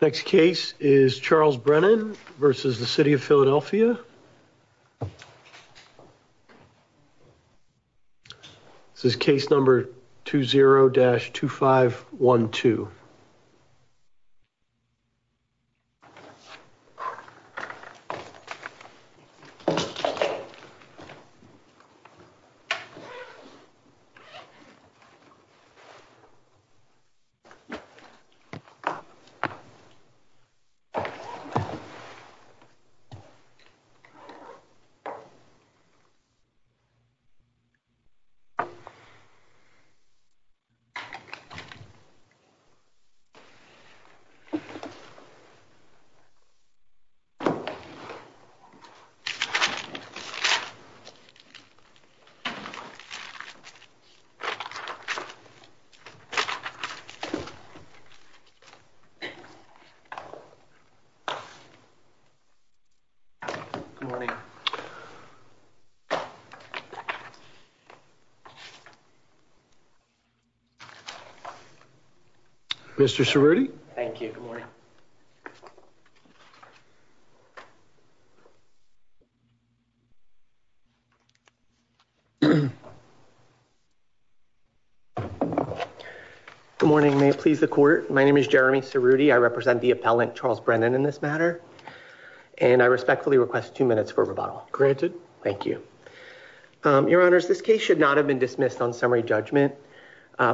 next case is Charles Brennan versus the City of Philadelphia this is case number 20-2512. Mr. Cerruti. Thank you. Good morning, may it please the court. My name is Jeremy Cerruti. I represent the appellant Charles Brennan in this matter and I respectfully request two minutes for rebuttal. Granted. Thank you. Your honors, this case should not have been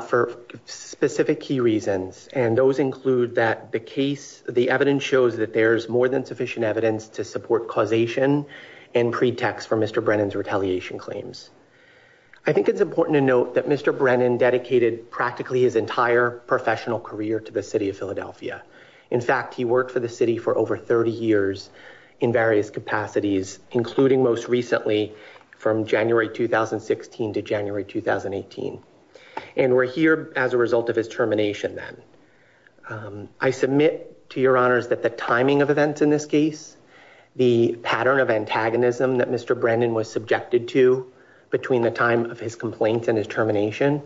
for specific key reasons and those include that the case the evidence shows that there's more than sufficient evidence to support causation and pretext for Mr. Brennan's retaliation claims. I think it's important to note that Mr. Brennan dedicated practically his entire professional career to the City of Philadelphia. In fact, he worked for the city for over 30 years in various capacities including most recently from January 2016 to January 2018. And we're here as a result of his termination then. I submit to your honors that the timing of events in this case, the pattern of antagonism that Mr. Brennan was subjected to between the time of his complaints and his termination,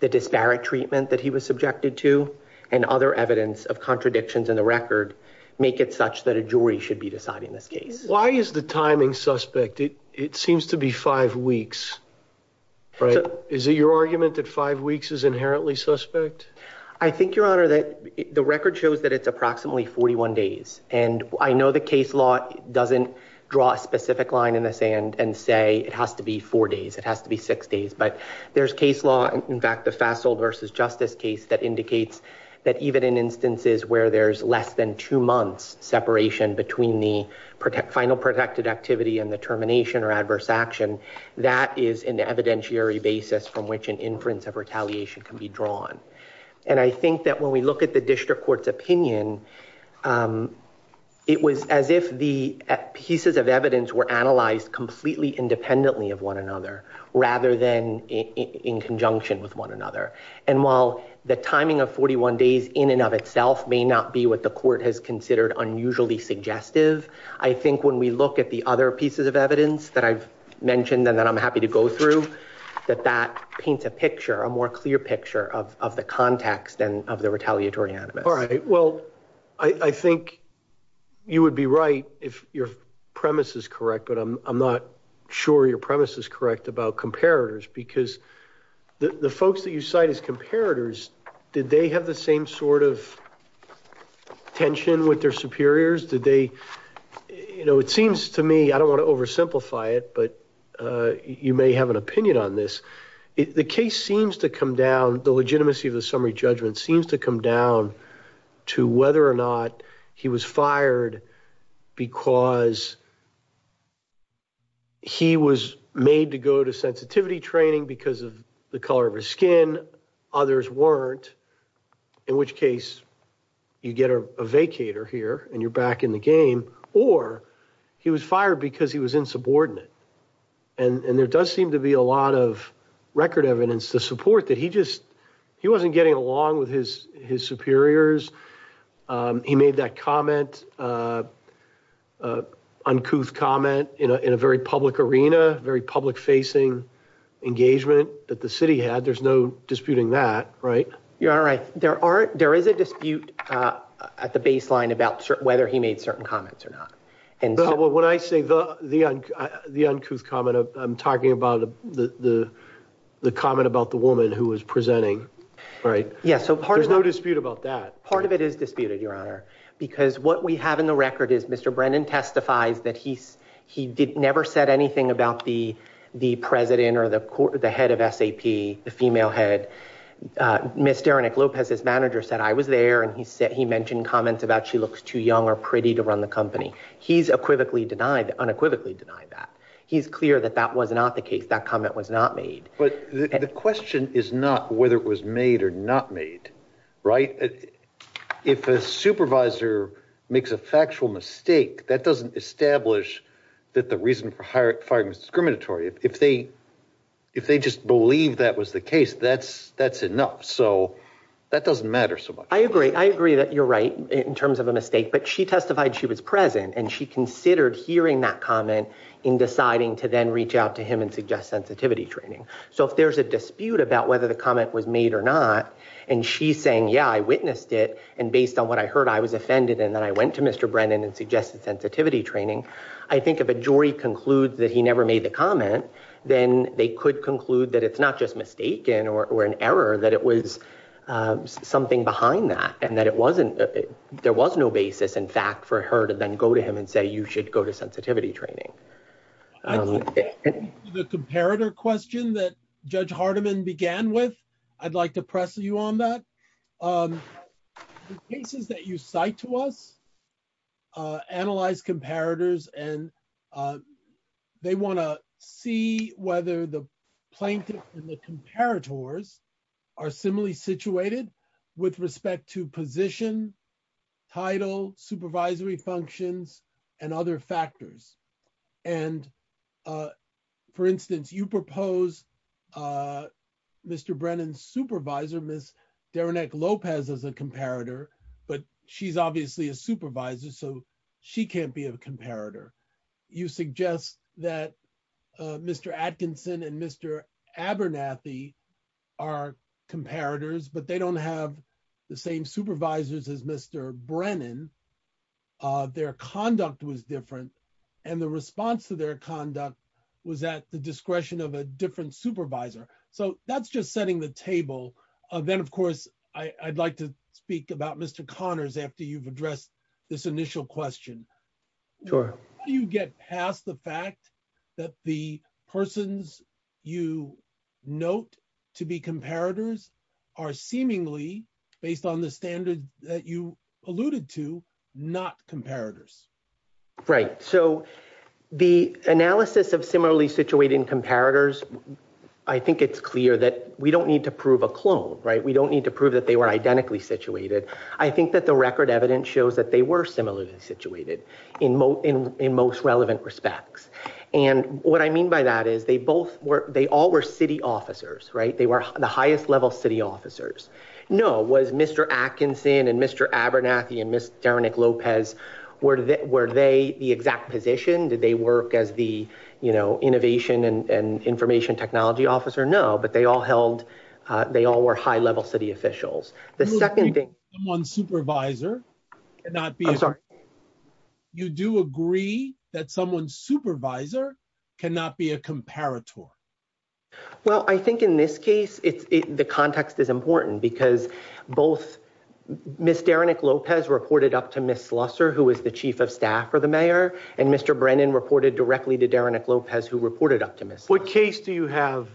the disparate treatment that he was subjected to, and other evidence of contradictions in the record make it such that a jury should be deciding this case. Why is the timing suspect? It seems to be five weeks. Is it your argument that five weeks is inherently suspect? I think, your honor, that the record shows that it's approximately 41 days. And I know the case law doesn't draw a specific line in the sand and say it has to be four days. It has to be six days. But there's case law, in fact, the Fasold versus Justice case that indicates that even in instances where there's less than two months separation between the final protected activity and the termination or adverse action, that is an evidentiary basis from which an inference of retaliation can be drawn. And I think that when we look at the district court's opinion, it was as if the pieces of evidence were analyzed completely independently of one another, rather than in conjunction with one another. And while the timing of 41 days in and of itself may not be what the court has considered unusually suggestive, I think when we look at the other that I'm happy to go through, that that paints a picture, a more clear picture of the context and of the retaliatory animus. All right. Well, I think you would be right if your premise is correct, but I'm not sure your premise is correct about comparators. Because the folks that you cite as comparators, did they have the same sort of tension with their superiors? It seems to me, I don't want to oversimplify it, but you may have an opinion on this. The case seems to come down, the legitimacy of the summary judgment seems to come down to whether or not he was fired because he was made to go to sensitivity training because of the color of his skin, others weren't, in which case you get a vacator here and you're back in the game, or he was fired because he was insubordinate. And there does seem to be a lot of record evidence to support that he just, he wasn't getting along with his superiors. He made that comment, uncouth comment in a very public arena, very public facing engagement that the city had. There's no disputing that, right? There is a dispute at the baseline about whether he made certain comments or not. When I say the uncouth comment, I'm talking about the comment about the woman who was presenting. There's no dispute about that. Part of it is disputed, your honor, because what we have in the record is Mr. Brennan testifies that he never said anything about the president or the head of SAP, the female head. Ms. Derinick Lopez, his manager, said, I was there and he mentioned comments about she looks too young or pretty to run the company. He's unequivocally denied that. He's clear that that was not the case, that comment was not made. But the question is not whether it was made or not made, right? If a supervisor makes a factual mistake, that doesn't establish that the reason for firing was discriminatory. If they just believe that was the case, that's enough. So that doesn't matter so much. I agree. I agree that you're right in terms of a mistake, but she testified she was present and she considered hearing that comment in deciding to then reach out to him and suggest sensitivity training. So if there's a dispute about whether the comment was made or not, and she's saying, yeah, I witnessed it, and based on what I heard, I was offended, and then I went to Mr. Brennan and suggested sensitivity training. I think if a jury concludes that he never made the comment, then they could conclude that it's not just mistaken or an error, that it was something behind that and that there was no basis, in fact, for her to then go to him and say, you should go to sensitivity training. The comparator question that Judge Hardiman began with, I'd like to press you on that. The cases that you cite to us, analyzed comparators, and they want to see whether the plaintiff and the comparators are similarly situated with respect to position, title, supervisory functions, and other factors. And for instance, you propose Mr. Brennan's supervisor, Derenek Lopez, as a comparator, but she's obviously a supervisor, so she can't be a comparator. You suggest that Mr. Atkinson and Mr. Abernathy are comparators, but they don't have the same supervisors as Mr. Brennan. Their conduct was different, and the response to their conduct was at the discretion of a different supervisor. So that's just setting the table. Then, of course, I'd like to speak about Mr. Connors after you've addressed this initial question. How do you get past the fact that the persons you note to be comparators are seemingly, based on the standard that you alluded to, not comparators? Right. So the analysis of similarly situated comparators, I think it's clear that we don't need to prove a clone, right? We don't need to prove that they were identically situated. I think that the record evidence shows that they were similarly situated in most relevant respects. And what I mean by that is they all were city officers, right? They were the highest level city officers. No, was Mr. Atkinson and Mr. Abernathy and Ms. Derenick-Lopez, were they the exact position? Did they work as the innovation and information technology officer? No, but they all were high level city officials. You do agree that someone's supervisor cannot be a comparator. Well, I think in this case, the context is important because both Ms. Derenick-Lopez reported up to Ms. Slusser, who was the chief of staff for the mayor, and Mr. Brennan reported directly to Derenick-Lopez, who reported up to Ms. Slusser. What case do you have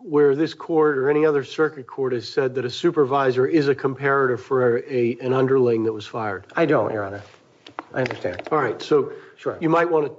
where this court or any other circuit court has said that a supervisor is a comparator for an underling that was fired? I don't, Your Honor. I understand. All right. So you might want to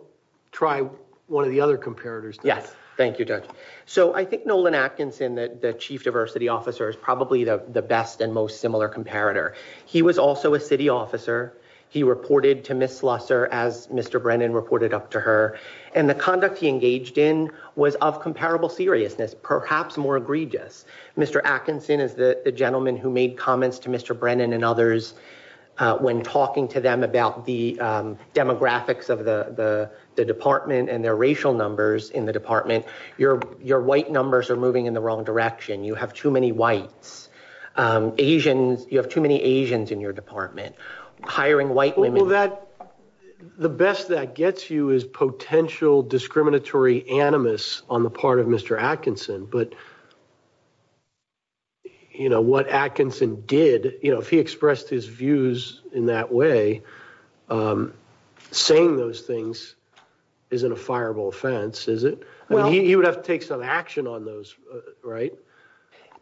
try one of the comparators. Yes. Thank you, Judge. So I think Nolan Atkinson, the chief diversity officer, is probably the best and most similar comparator. He was also a city officer. He reported to Ms. Slusser, as Mr. Brennan reported up to her, and the conduct he engaged in was of comparable seriousness, perhaps more egregious. Mr. Atkinson is the gentleman who made comments to Mr. Brennan and others when talking to them about the demographics of the department and their racial numbers in the department. Your white numbers are moving in the wrong direction. You have too many whites. Asians. You have too many Asians in your department. Hiring white women. Well, the best that gets you is potential discriminatory animus on the part of Mr. Atkinson. But you know, what Atkinson did, you know, if he expressed his views in that way, saying those things isn't a fireable offense, is it? Well, he would have to take some action on those, right?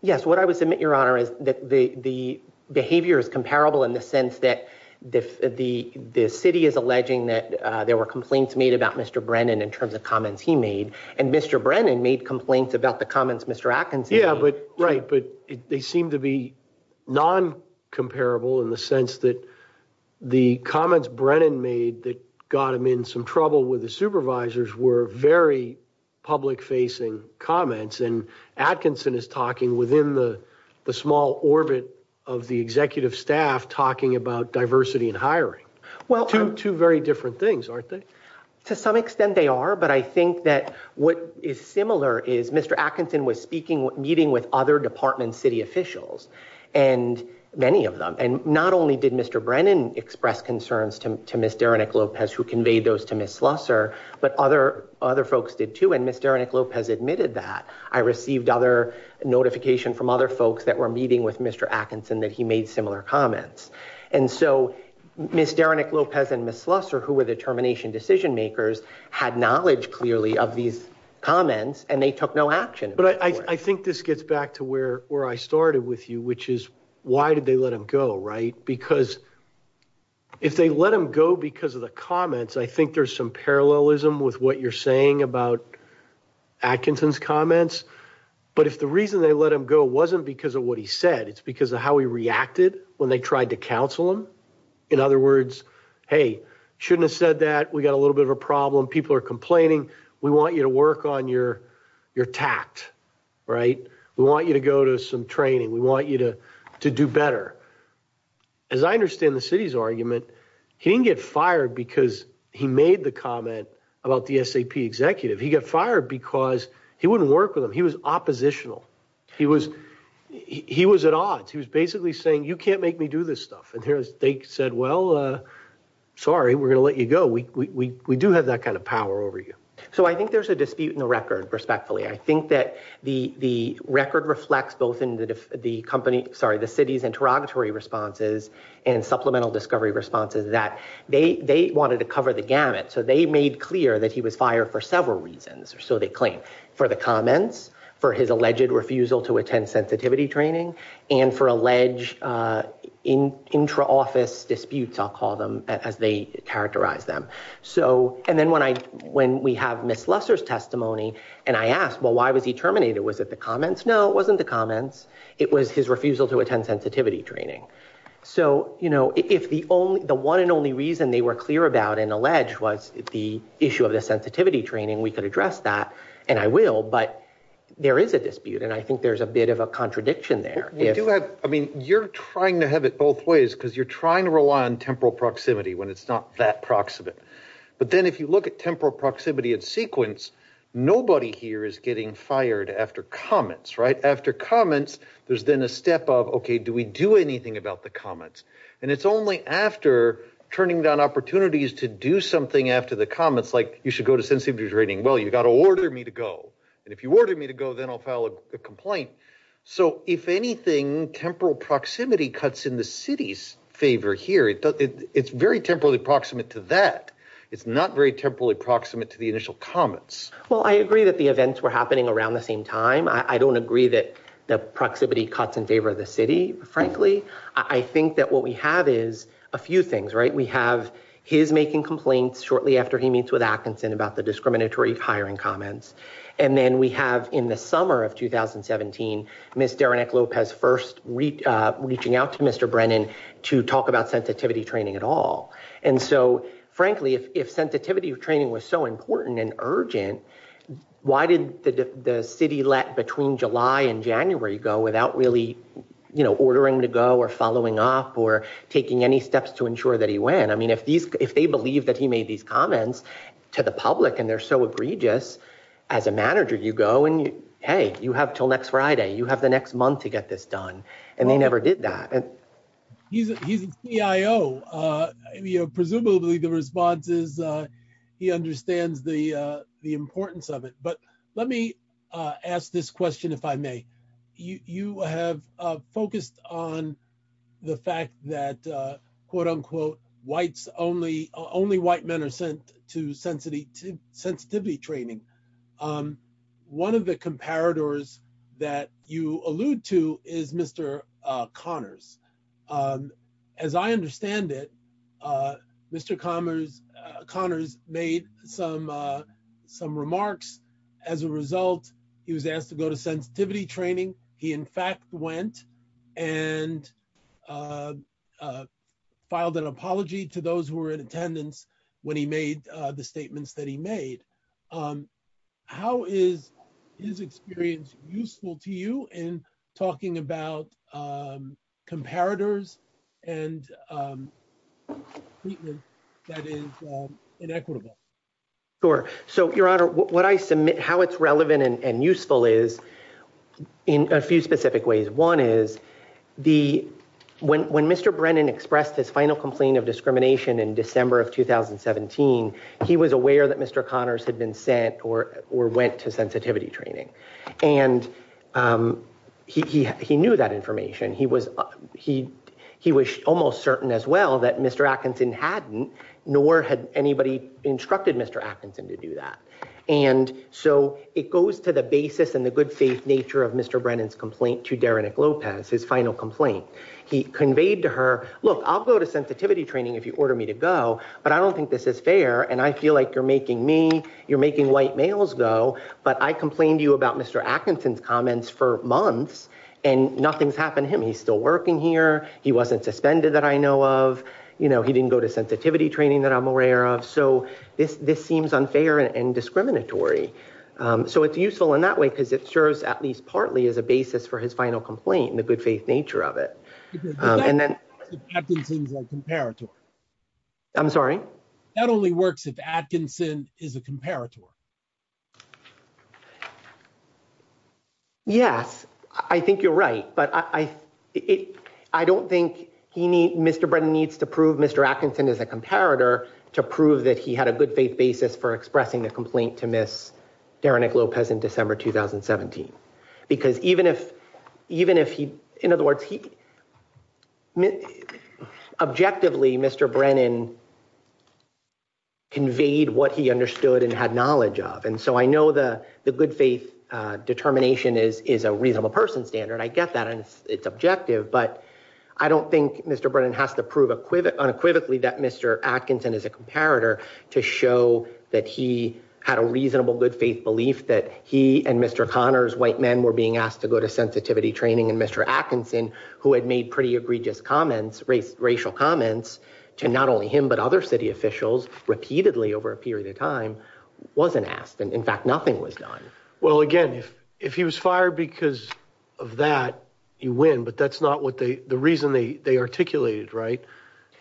Yes. What I would submit, Your Honor, is that the behavior is comparable in the sense that the city is alleging that there were complaints made about Mr. Brennan in terms of comments Mr. Atkinson made. Yeah, but they seem to be non-comparable in the sense that the comments Brennan made that got him in some trouble with the supervisors were very public-facing comments, and Atkinson is talking within the small orbit of the executive staff talking about diversity in hiring. Two very different things, aren't they? To some extent they are, but I think that what is similar is Mr. Atkinson was speaking, meeting with other department city officials, and many of them, and not only did Mr. Brennan express concerns to Ms. Derenick-Lopez, who conveyed those to Ms. Slusser, but other folks did too, and Ms. Derenick-Lopez admitted that. I received other notification from other folks that were meeting with Mr. Atkinson that he made similar comments, and so Ms. Derenick-Lopez and Ms. Slusser, who were the clearly of these comments, and they took no action. But I think this gets back to where I started with you, which is why did they let him go, right? Because if they let him go because of the comments, I think there's some parallelism with what you're saying about Atkinson's comments, but if the reason they let him go wasn't because of what he said, it's because of how he reacted when they tried to counsel him. In other words, hey, shouldn't have said that, we got a little bit of a problem, people are complaining, we want you to work on your tact, right? We want you to go to some training, we want you to do better. As I understand the city's argument, he didn't get fired because he made the comment about the SAP executive. He got fired because he wouldn't work with him. He was oppositional. He was at odds. He was basically saying, you can't make me do this have that kind of power over you. So I think there's a dispute in the record, respectfully. I think that the record reflects both in the company, sorry, the city's interrogatory responses and supplemental discovery responses that they wanted to cover the gamut. So they made clear that he was fired for several reasons, or so they claim. For the comments, for his alleged refusal to attend sensitivity training, and for alleged intra-office disputes, I'll call them, as they characterize them. So, and then when I, when we have Ms. Lusser's testimony, and I ask, well, why was he terminated? Was it the comments? No, it wasn't the comments. It was his refusal to attend sensitivity training. So, you know, if the only, the one and only reason they were clear about and alleged was the issue of the sensitivity training, we could address that, and I will, but there is a dispute, and I think there's a bit of a contradiction there. We do have, I mean, you're trying to have it both ways, because you're trying to rely on temporal proximity when it's not that proximate, but then if you look at temporal proximity in sequence, nobody here is getting fired after comments, right? After comments, there's then a step of, okay, do we do anything about the comments? And it's only after turning down opportunities to do something after the comments, like you should go to sensitivity training. Well, you've got to order me to go, and if you order me to go, then I'll file a complaint. So, if anything, temporal proximity cuts in the city's favor here. It's very temporally proximate to that. It's not very temporally proximate to the initial comments. Well, I agree that the events were happening around the same time. I don't agree that the proximity cuts in favor of the city, frankly. I think that what we have is a few things, right? We have his making complaints shortly after he meets with Atkinson about the discriminatory hiring comments, and then we have, in the summer of 2017, Ms. Derenek Lopez first reaching out to Mr. Brennan to talk about sensitivity training at all. And so, frankly, if sensitivity training was so important and urgent, why did the city let between July and January go without really, you know, ordering him to go or following up or taking any steps to ensure that he went? I mean, if they believe that he made these comments to the public and they're so egregious, as a manager, you go and, hey, you have till next Friday. You have the next month to get this done, and they never did that. He's a CIO. Presumably, the response is he understands the importance of it. But let me ask this question, if I may. You have focused on the fact that, only white men are sent to sensitivity training. One of the comparators that you allude to is Mr. Connors. As I understand it, Mr. Connors made some remarks. As a result, he was asked to go to sensitivity training. He, in fact, went and filed an apology to those who were in attendance when he made the statements that he made. How is his experience useful to you in talking about comparators and treatment that is useful? When Mr. Brennan expressed his final complaint of discrimination in December of 2017, he was aware that Mr. Connors had been sent or went to sensitivity training. He knew that information. He was almost certain as well that Mr. Atkinson hadn't, nor had anybody instructed Mr. Atkinson to do that. It goes to the basis and the good faith nature of Mr. Brennan's complaint to Derenick Lopez, his final complaint. He conveyed to her, look, I'll go to sensitivity training if you order me to go, but I don't think this is fair, and I feel like you're making me, you're making white males go, but I complained to you about Mr. Atkinson's comments for months, and nothing's happened to him. He's still working here. He wasn't suspended that I know of. He didn't go to sensitivity training that I'm aware of. So this seems unfair and discriminatory. So it's useful in that way because it serves at least partly as a basis for his final complaint and the good faith nature of it. I'm sorry? That only works if Atkinson is a comparator. Yes, I think you're right, but I don't think he needs, Mr. Brennan needs to prove Mr. Atkinson is a comparator to prove that he had a good faith basis for expressing the complaint to Miss Derenick Lopez in December 2017. Because even if he, in other words, objectively Mr. Brennan conveyed what he understood and had knowledge of, and so I know the good faith determination is a reasonable person standard. I get that, and it's objective, but I don't think Mr. Brennan has to prove unequivocally that Mr. Atkinson is a comparator to show that he had a reasonable good faith belief that he and Mr. Connors white men were being asked to go to sensitivity training and Mr. Atkinson, who had made pretty egregious comments, racial comments, to not only him, but other city officials repeatedly over a period of time, wasn't asked, and in fact, nothing was done. Well, again, if he was fired because of that, you win, but that's not what they, the reason they articulated, right?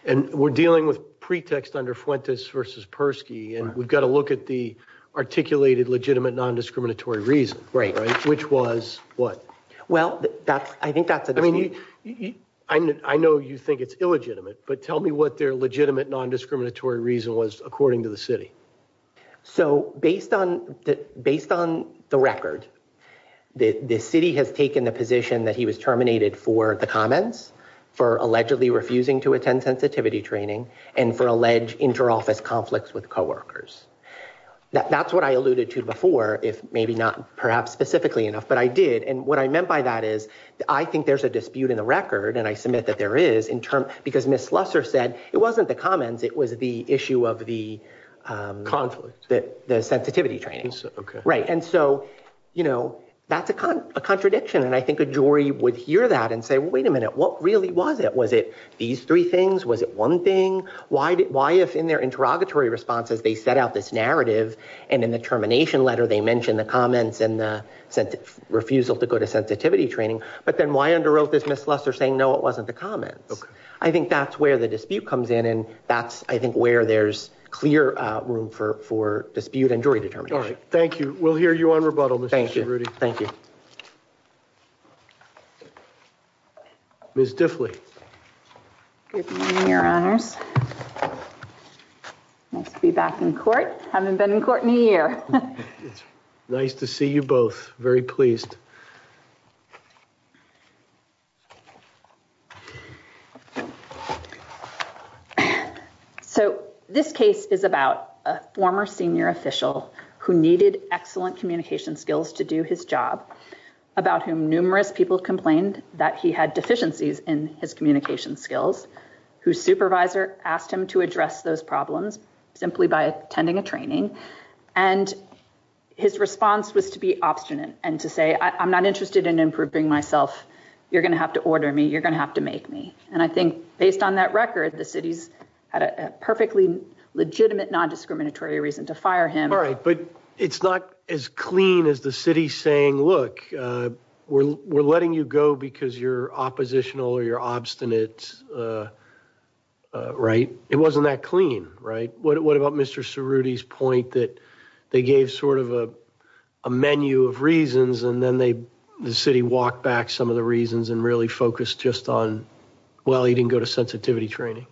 And we're dealing with pretext under Fuentes versus Persky, and we've got to look at the articulated legitimate non-discriminatory reason, which was what? Well, I think that's... I mean, I know you think it's illegitimate, but tell me what their legitimate non-discriminatory reason was according to the city. So based on the record, the city has taken the position that he was terminated for the comments, for allegedly refusing to attend sensitivity training, and for alleged inter-office conflicts with co-workers. That's what I alluded to before, if maybe not perhaps specifically enough, but I did, and what I meant by that is I think there's a dispute in the record, and I submit that there is, because Ms. Lusser said it wasn't the comments, it was the issue of the... Conflict. The sensitivity training. Okay. Right, and so, you know, that's a contradiction, and I think a jury would hear that and say, wait a minute, what really was it? Was it these three things? Was it one thing? Why if in their interrogatory responses, they set out this narrative, and in the termination letter, they mentioned the comments and the refusal to go to sensitivity training, but then why underwrote this Ms. Lusser saying, no, it wasn't the comments? Okay. I think that's where the dispute comes in, and that's, I think, where there's clear room for dispute and jury determination. All right, thank you. We'll hear you on rebuttal, Mr. Cerruti. Thank you. Ms. Diffley. Good morning, your honors. Nice to be back in court. Haven't been in court in a year. Nice to see you both. Very pleased. So, this case is about a former senior official who needed excellent communication skills to do his job, about whom numerous people complained that he had deficiencies in his communication skills, whose supervisor asked him to address those problems simply by attending a training, and his response was to be obstinate and to say, I'm not interested in improving myself. You're going to have to order me. You're going to have to make me. And I think, based on that record, the city's had a perfectly legitimate nondiscriminatory reason to fire him. All right, but it's not as clean as the city saying, look, we're letting you go because you're oppositional or you're obstinate, right? It wasn't that clean, right? What about Mr. Cerruti's point that they gave sort of a menu of reasons and then the city walked back some of the reasons and really focused just on, well, he didn't go to sensitivity training?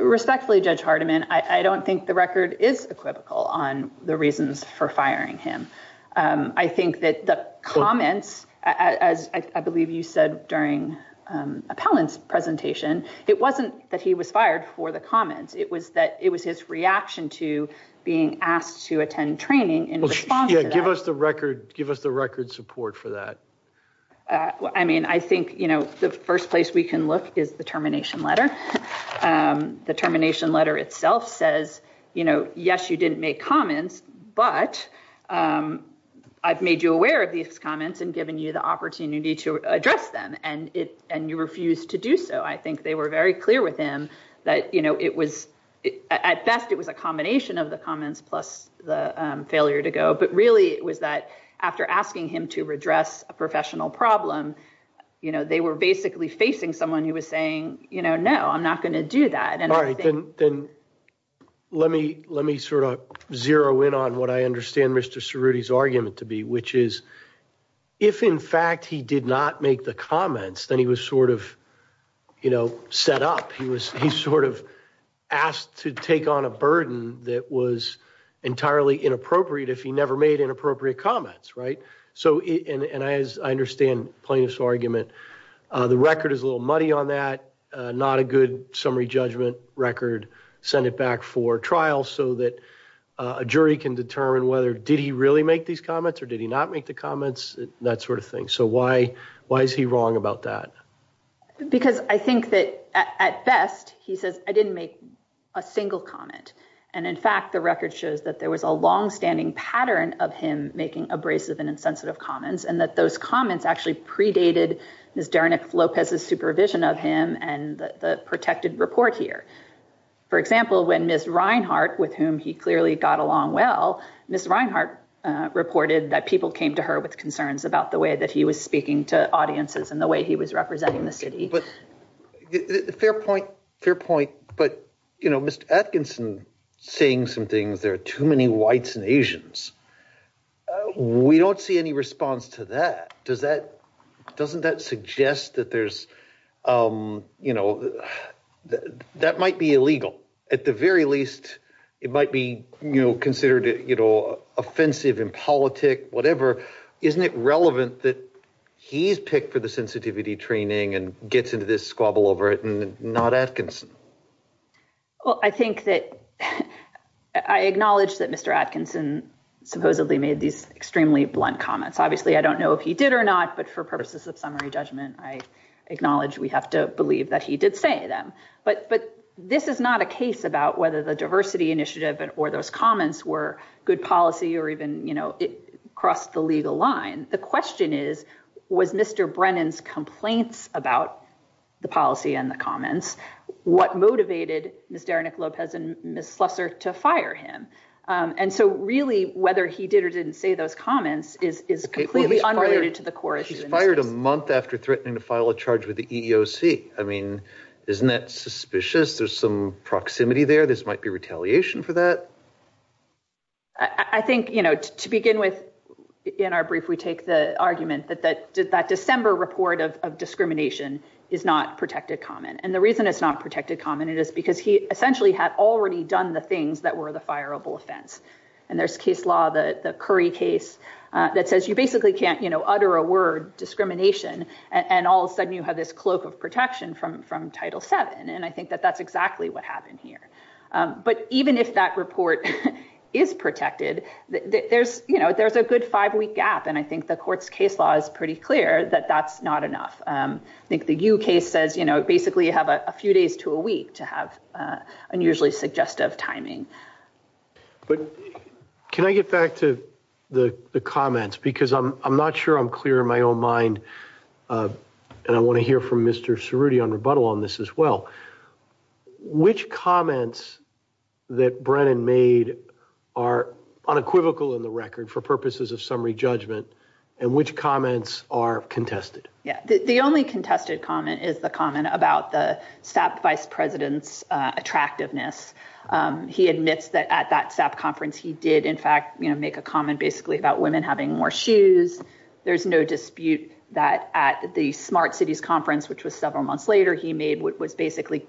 Respectfully, Judge Hardiman, I don't think the record is equivocal on the reasons for firing him. I think that the comments, as I believe you said during Appellant's presentation, it wasn't that he was fired for the asked to attend training in response to that. Yeah, give us the record support for that. I mean, I think the first place we can look is the termination letter. The termination letter itself says, yes, you didn't make comments, but I've made you aware of these comments and given you the opportunity to address them and you refused to do so. I think they were very clear with him that at best it was a combination of the comments plus the failure to go, but really it was that after asking him to redress a professional problem, they were basically facing someone who was saying, no, I'm not going to do that. All right, then let me sort of zero in on what I understand Mr. Cerruti's argument to be, which is if in fact he did not make the set up, he sort of asked to take on a burden that was entirely inappropriate if he never made inappropriate comments, right? And I understand plaintiff's argument. The record is a little muddy on that, not a good summary judgment record, send it back for trial so that a jury can determine whether did he really make these comments or did he not make the comments, that sort of thing. So why is he wrong about that? Because I think that at best he says, I didn't make a single comment. And in fact, the record shows that there was a long standing pattern of him making abrasive and insensitive comments and that those comments actually predated Ms. Dernek Lopez's supervision of him and the protected report here. For example, when Ms. Reinhart, with whom he clearly got along well, Ms. Reinhart reported that people came to her with concerns about the way that he was speaking to audiences and the way he was representing the city. Fair point, fair point. But, you know, Mr. Atkinson saying some things, there are too many whites and Asians. We don't see any response to that. Does that, doesn't that suggest that there's, you know, that might be illegal at the very least. It might be, you know, considered, you know, offensive and politic, whatever. Isn't it relevant that he's picked for the sensitivity training and gets into this squabble over it and not Atkinson? Well, I think that I acknowledge that Mr. Atkinson supposedly made these extremely blunt comments. Obviously, I don't know if he did or not, but for purposes of summary judgment, I acknowledge we have to believe that he did say them. But this is not a case about whether the diversity initiative or those comments were good policy or even, you know, it crossed the legal line. The question is, was Mr. Brennan's complaints about the policy and the comments, what motivated Ms. Derinick Lopez and Ms. Slusser to fire him? And so really, whether he did or didn't say those comments is completely unrelated to the core issue. He's fired a month after threatening to file a charge with the EEOC. I mean, isn't that suspicious? There's some proximity there. This might be retaliation for that. I think, you know, to begin with, in our brief, we take the argument that that December report of discrimination is not protected comment. And the reason it's not protected comment is because he essentially had already done the things that were the fireable offense. And there's case law, the Curry case, that says you basically can't, you know, utter a word, discrimination, and all of a sudden you have this cloak of protection from Title VII. And I think that that's exactly what happened here. But even if that report is protected, there's, you know, there's a good five-week gap. And I think the court's case law is pretty clear that that's not enough. I think the Yu case says, you know, basically you have a few days to a week to have unusually suggestive timing. But can I get back to the comments? Because I'm not sure I'm clear in my own mind, and I want to hear from Mr. Cerruti on rebuttal on this as well. Which comments that Brennan made are unequivocal in the record for purposes of summary judgment, and which comments are contested? Yeah, the only contested comment is the comment about the vice president's attractiveness. He admits that at that SAP conference he did, in fact, you know, make a comment basically about women having more shoes. There's no dispute that at the Smart Cities conference, which was several months later, he made what was basically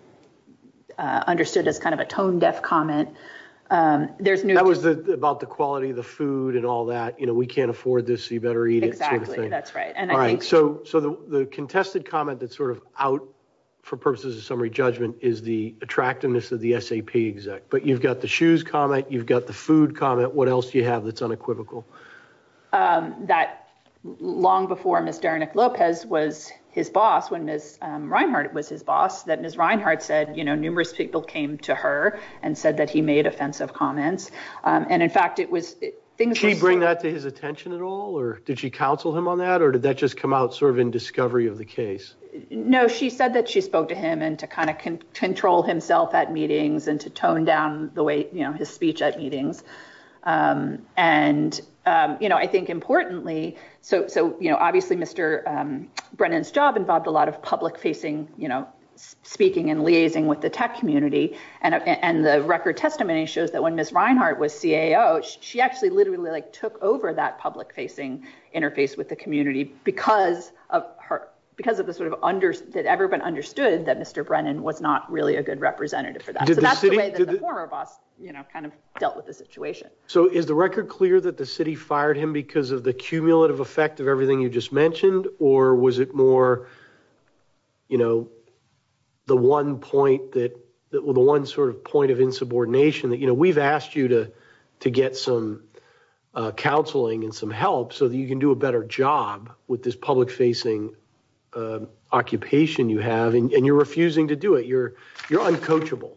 understood as kind of a tone-deaf comment. That was about the quality of the food and all that, you know, we can't afford this, you better eat it sort of thing. Exactly, that's right. So the contested comment that's sort of out for purposes of summary judgment is the attractiveness of the SAP exec. But you've got the shoes comment, you've got the food comment, what else do you have that's unequivocal? That long before Ms. Derinick Lopez was his boss, when Ms. Reinhardt was his boss, that Ms. Reinhardt said, you know, numerous people came to her and said that he made offensive comments. And in fact, it was... Did she bring that to his attention at all, or did she counsel him on that? Or did that just come out sort of in discovery of the case? No, she said that she spoke to him and to kind of control himself at meetings and to tone down the way, you know, his speech at meetings. And, you know, I think importantly, so, you know, obviously Mr. Brennan's job involved a lot of public facing, you know, speaking and liaising with the tech community. And the record testimony shows that when Ms. Reinhardt was CAO, she actually literally like public facing interface with the community because of the sort of... That everyone understood that Mr. Brennan was not really a good representative for that. So that's the way that the former boss, you know, kind of dealt with the situation. So is the record clear that the city fired him because of the cumulative effect of everything you just mentioned? Or was it more, you know, the one point that... The one sort of point of insubordination that, you know, we've asked you to get some counseling and some help so that you can do a better job with this public facing occupation you have, and you're refusing to do it. You're uncoachable.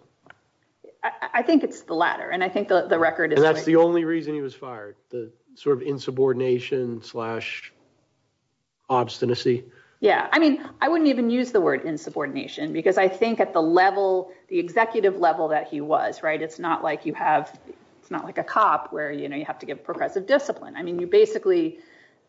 I think it's the latter. And I think the record is... And that's the only reason he was fired, the sort of insubordination slash obstinacy. Yeah. I mean, I wouldn't even use the word insubordination because I think at the level, the executive level that he was, right, it's not like it's not like a cop where, you know, you have to give progressive discipline. I mean, you basically,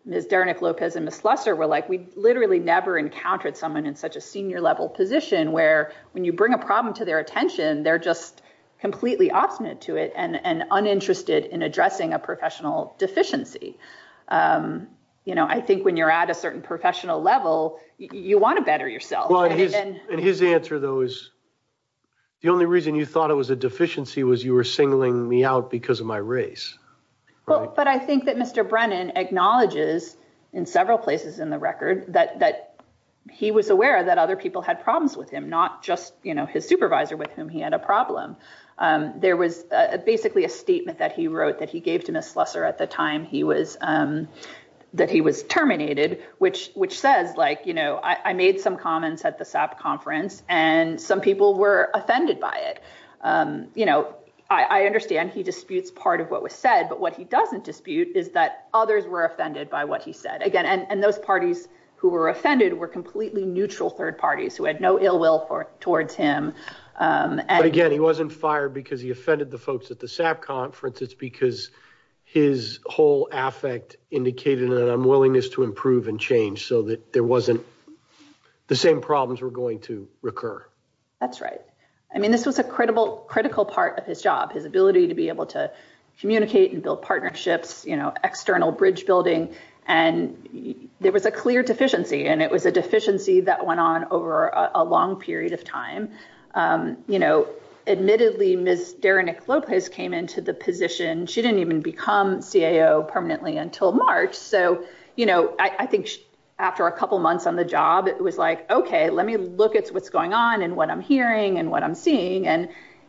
Ms. Dernick-Lopez and Ms. Lusser were like, we literally never encountered someone in such a senior level position where when you bring a problem to their attention, they're just completely obstinate to it and uninterested in addressing a professional deficiency. You know, I think when you're at a certain professional level, you want to better yourself. And his answer, though, is the only reason you thought it was a deficiency was you were singling me out because of my race. But I think that Mr. Brennan acknowledges in several places in the record that he was aware that other people had problems with him, not just his supervisor with whom he had a problem. There was basically a statement that he wrote that he gave to Ms. Lusser at the time that he was terminated, which says, like, you know, I made some comments at the SAP conference and some people were offended by it. You know, I understand he disputes part of what was said, but what he doesn't dispute is that others were offended by what he said again. And those parties who were offended were completely neutral third parties who had no ill will towards him. But again, he wasn't fired because he offended the folks at the SAP conference. It's because his whole affect indicated an unwillingness to improve and change so that there wasn't the same problems were going to recur. That's right. I mean, this was a credible, critical part of his job, his ability to be able to communicate and build partnerships, you know, external bridge building. And there was a clear deficiency, and it was a deficiency that went on over a long period of time. You know, admittedly, Ms. Deranick Lopez came into the after a couple months on the job. It was like, OK, let me look at what's going on and what I'm hearing and what I'm seeing. And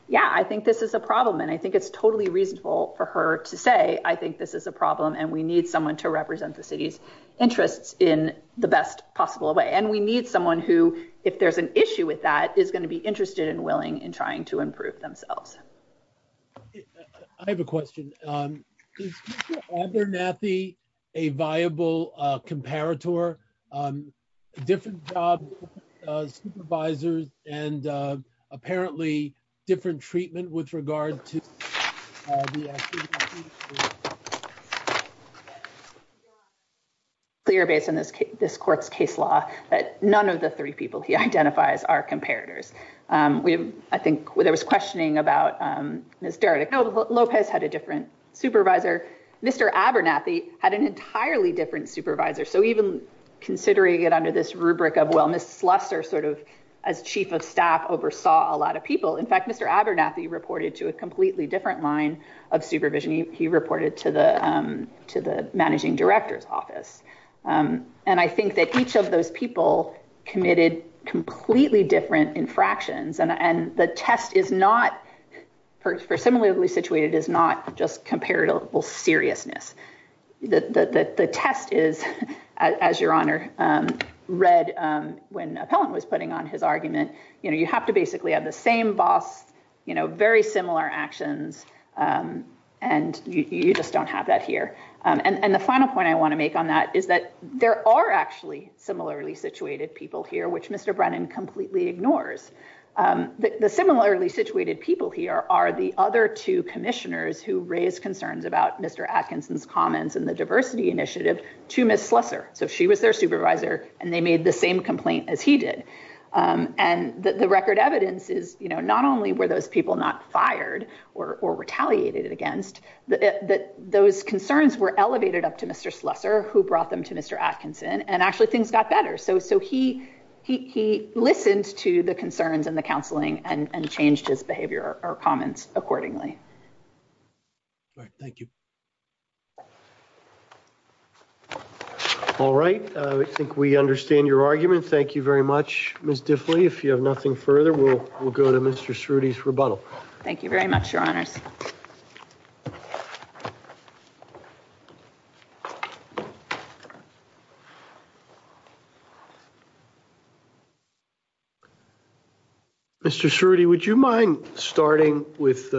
yeah, I think this is a problem. And I think it's totally reasonable for her to say, I think this is a problem and we need someone to represent the city's interests in the best possible way. And we need someone who, if there's an issue with that, is going to be interested and willing in trying to improve themselves. I have a question. Is Mr. Abernathy a viable comparator? Different job, supervisors and apparently different treatment with regard to. Clear based on this, this court's case law that none of the three people he identifies are comparators. I think there was questioning about Ms. Deranick. Lopez had a different supervisor. Mr. Abernathy had an entirely different supervisor. So even considering it under this rubric of, well, Ms. Slusser sort of as chief of staff oversaw a lot of people. In fact, Mr. Abernathy reported to a completely different line of supervision. He reported to the different infractions. And the test is not, for similarly situated, is not just comparable seriousness. The test is, as your honor read when Appellant was putting on his argument, you have to basically have the same boss, very similar actions. And you just don't have that here. And the final point I want to make on that is that there are actually similarly situated people here, which Mr. Brennan completely ignores. The similarly situated people here are the other two commissioners who raised concerns about Mr. Atkinson's comments and the diversity initiative to Ms. Slusser. So she was their supervisor and they made the same complaint as he did. And the record evidence is not only were those people not fired or retaliated against, those concerns were elevated up to Mr. Slusser, who brought them to Mr. Atkinson, and actually things got better. So he listened to the concerns and the counseling and changed his behavior or comments accordingly. All right. Thank you. All right. I think we understand your argument. Thank you very much, Ms. Diffley. If you have nothing further, we'll go to Mr. Cerruti's rebuttal. Thank you very much, Your Honors. Mr. Cerruti, would you mind starting with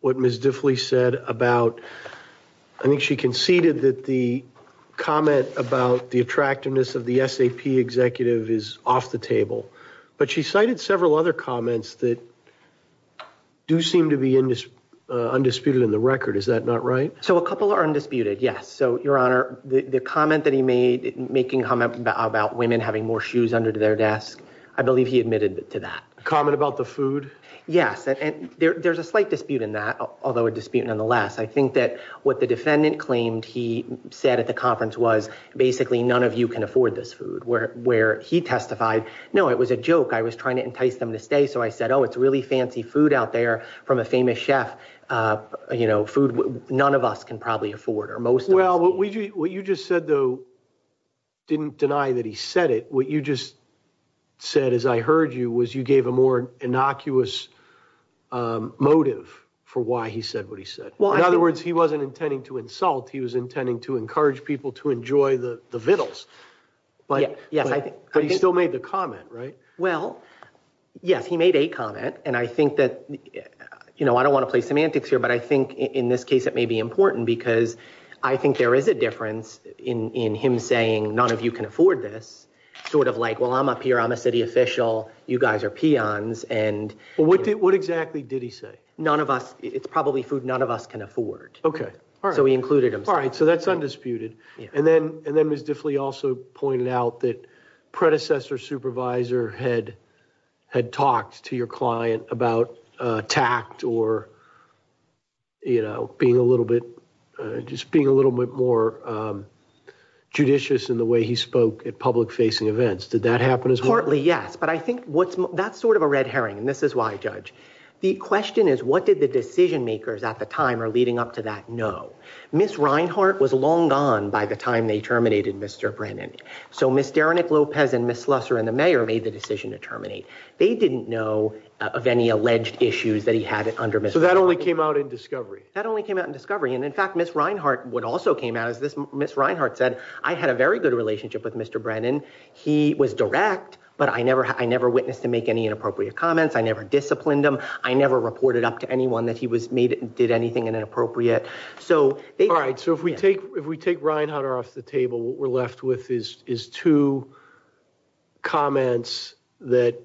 what Ms. Diffley said about, I think she conceded that the comment about the attractiveness of the SAP executive is off the table. But she cited several other comments that do seem to be undisputed in the record. Is that not right? So a couple are undisputed. Yes. So, Your Honor, the comment that he made making comment about women having more shoes under their desk, I believe he admitted to that. Comment about the food? Yes. And there's a slight dispute in that, although a dispute nonetheless. I think that what the defendant claimed he said at the conference was basically none of you can know. It was a joke. I was trying to entice them to stay. So I said, oh, it's really fancy food out there from a famous chef. You know, food none of us can probably afford or most. Well, what you just said, though, didn't deny that he said it. What you just said, as I heard you, was you gave a more innocuous motive for why he said what he said. In other words, he wasn't intending to insult. He was intending to encourage people to enjoy the comment. Right. Well, yes, he made a comment. And I think that, you know, I don't want to play semantics here, but I think in this case it may be important because I think there is a difference in him saying none of you can afford this sort of like, well, I'm up here. I'm a city official. You guys are peons. And what did what exactly did he say? None of us. It's probably food none of us can afford. OK. All right. So we included him. All right. So that's undisputed. And then and then was definitely also pointed out that predecessor supervisor had had talked to your client about tact or. You know, being a little bit just being a little bit more judicious in the way he spoke at public facing events, did that happen as partly? Yes. But I think that's sort of a red herring. And this is why, Judge, the question is, what did the decision makers at the time or leading up to that? No. Miss Reinhart was long gone by the time they terminated Mr. Brennan. So Mr. Nick Lopez and Miss Lusser and the mayor made the decision to terminate. They didn't know of any alleged issues that he had under. So that only came out in discovery that only came out in discovery. And in fact, Miss Reinhart would also came out as this. Miss Reinhart said I had a very good relationship with Mr. Brennan. He was direct, but I never I never witnessed to make any inappropriate comments. I never disciplined him. I never reported up to anyone that he was made and did anything inappropriate. So all right. So if we take if we take Reinhart off the table, what we're left with is is two comments that.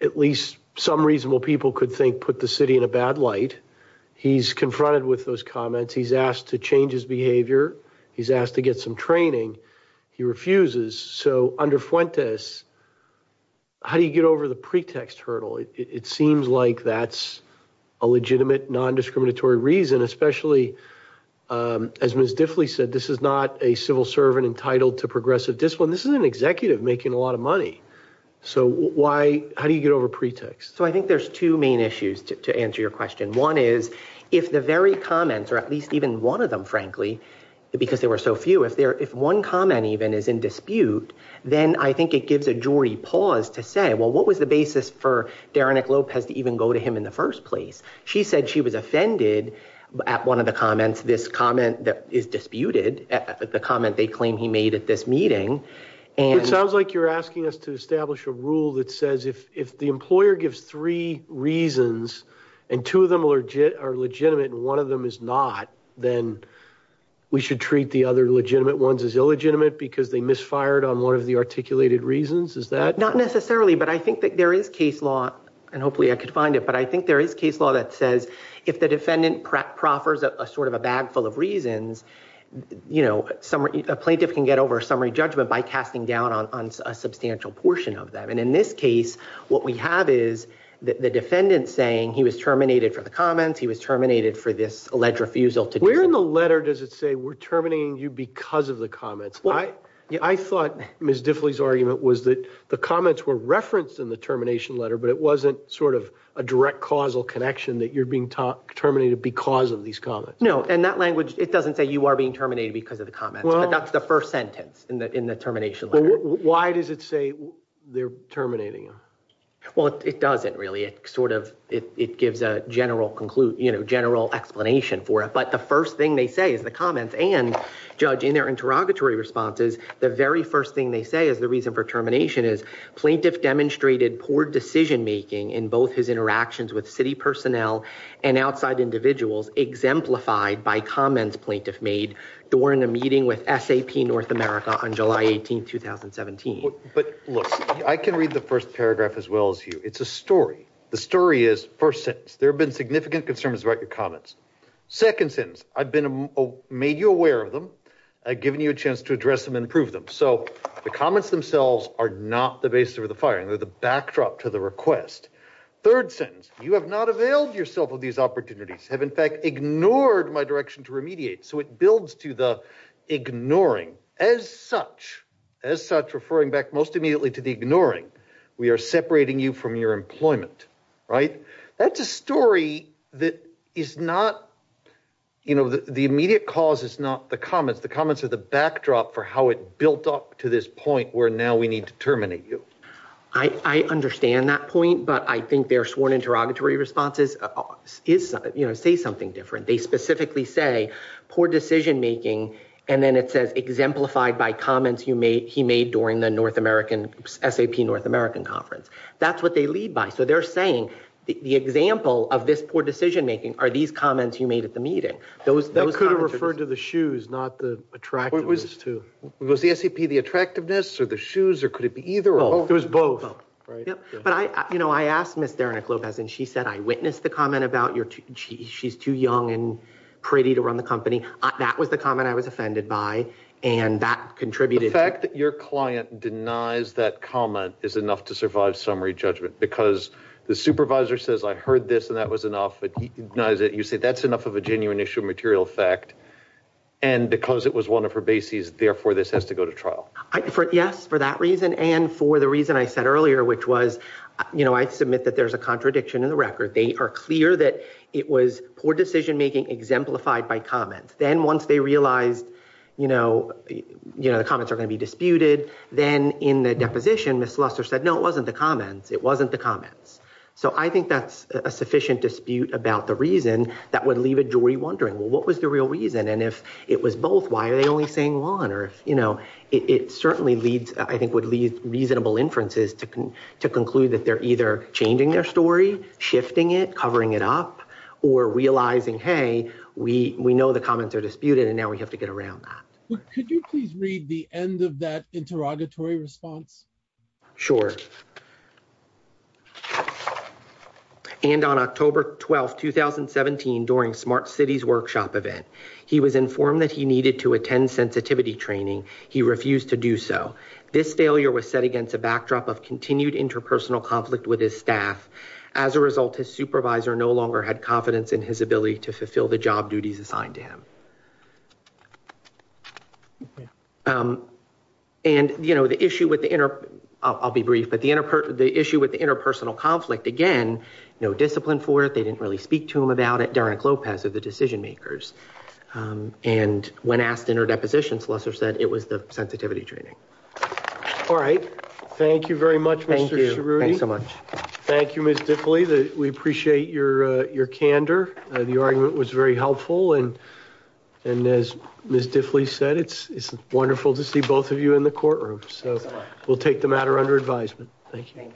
At least some reasonable people could think put the city in a bad light. He's confronted with those comments. He's asked to change his behavior. He's asked to get some training. He refuses. So under Fuentes, how do you get over the pretext hurdle? It seems like that's a legitimate non-discriminatory reason, especially as Miss Diffley said, this is not a civil servant entitled to progressive discipline. This is an executive making a lot of money. So why how do you get over pretext? So I think there's two main issues to answer your question. One is if the very comments or at least even one of them, frankly, because there were so few, if there if one comment even is in dispute, then I think it gives a jury pause to say, well, what was the basis for Derinick Lopez to even go to him in the first place? She said she was offended at one of the comments, this comment that is disputed at the comment they claim he made at this meeting. And it sounds like you're asking us to establish a rule that says if if the employer gives three reasons and two of them are legitimate and one of them is not, then we should treat the other legitimate ones as illegitimate because they misfired on one of the articulated reasons, is that? Not necessarily, but I think that there is case law and hopefully I could find it, but I think there is case law that says if the defendant proffers a sort of a bag full of reasons, you know, a plaintiff can get over summary judgment by casting down on a substantial portion of them. And in this case, what we have is the defendant saying he was terminated for the comments, he was terminated for this alleged Where in the letter does it say we're terminating you because of the comments? I thought Ms. Diffley's argument was that the comments were referenced in the termination letter, but it wasn't sort of a direct causal connection that you're being terminated because of these comments. No, in that language, it doesn't say you are being terminated because of the comments, but that's the first sentence in the termination letter. Why does it say they're terminating him? Well, it doesn't really. It sort of, it gives a general conclusion, you know, general explanation for it. But the first thing they say is the comments and, Judge, in their interrogatory responses, the very first thing they say is the reason for termination is plaintiff demonstrated poor decision making in both his interactions with city personnel and outside individuals exemplified by comments plaintiff made during a meeting with SAP North America on July 18, 2017. But look, I can read the first paragraph as well as you. It's a story. The story is first sentence. There have been significant concerns about your comments. Second sentence. I've been made you aware of them. I've given you a chance to address them and prove them. So the comments themselves are not the basis of the firing. They're the backdrop to the request. Third sentence. You have not availed yourself of these opportunities have in fact ignored my direction to remediate. So it builds to the ignoring as such, as such back most immediately to the ignoring. We are separating you from your employment, right? That's a story that is not, you know, the immediate cause is not the comments. The comments are the backdrop for how it built up to this point where now we need to terminate you. I understand that point, but I think they're sworn interrogatory responses is, you know, say something different. They specifically say poor decision making. And then it says exemplified by comments you made he made during the North American S.A.P. North American conference. That's what they lead by. So they're saying the example of this poor decision making are these comments you made at the meeting. Those could have referred to the shoes, not the attractiveness too. Was the S.A.P. the attractiveness or the shoes or could it be either or both? It was both. But I, you know, I asked Ms. Derenick Lopez and she said, I witnessed the comment about your, she's too young and pretty to run the company. That was the comment I was offended by and that contributed. The fact that your client denies that comment is enough to survive summary judgment because the supervisor says I heard this and that was enough. But he denies it. You say that's enough of a genuine issue material fact and because it was one of her bases, therefore this has to go to trial. Yes, for that reason and for the reason I said earlier, which was, you know, I submit that there's a contradiction in record. They are clear that it was poor decision making exemplified by comments. Then once they realized, you know, the comments are going to be disputed, then in the deposition, Ms. Luster said, no, it wasn't the comments. It wasn't the comments. So I think that's a sufficient dispute about the reason that would leave a jury wondering, well, what was the real reason? And if it was both, why are they only saying one? Or if, you know, it certainly leads, I think would lead reasonable inferences to conclude that they're either changing their story, shifting it, covering it up or realizing, hey, we know the comments are disputed and now we have to get around that. Could you please read the end of that interrogatory response? Sure. And on October 12, 2017, during Smart Cities Workshop event, he was informed that he needed to attend sensitivity training. He refused to do so. This failure was set against a backdrop of continued interpersonal conflict with his staff. As a result, his supervisor no longer had confidence in his ability to fulfill the job duties assigned to him. And, you know, the issue with the inner, I'll be brief, but the inner part of the issue with the interpersonal conflict, again, no discipline for it. They didn't really speak to him about it. The decision-makers. And when asked in her depositions, Lesser said it was the sensitivity training. All right. Thank you very much, Mr. Cerruti. Thank you so much. Thank you, Ms. Diffley. We appreciate your candor. The argument was very helpful. And as Ms. Diffley said, it's wonderful to see both of you in the courtroom. So we'll take the matter under advisement. Thank you.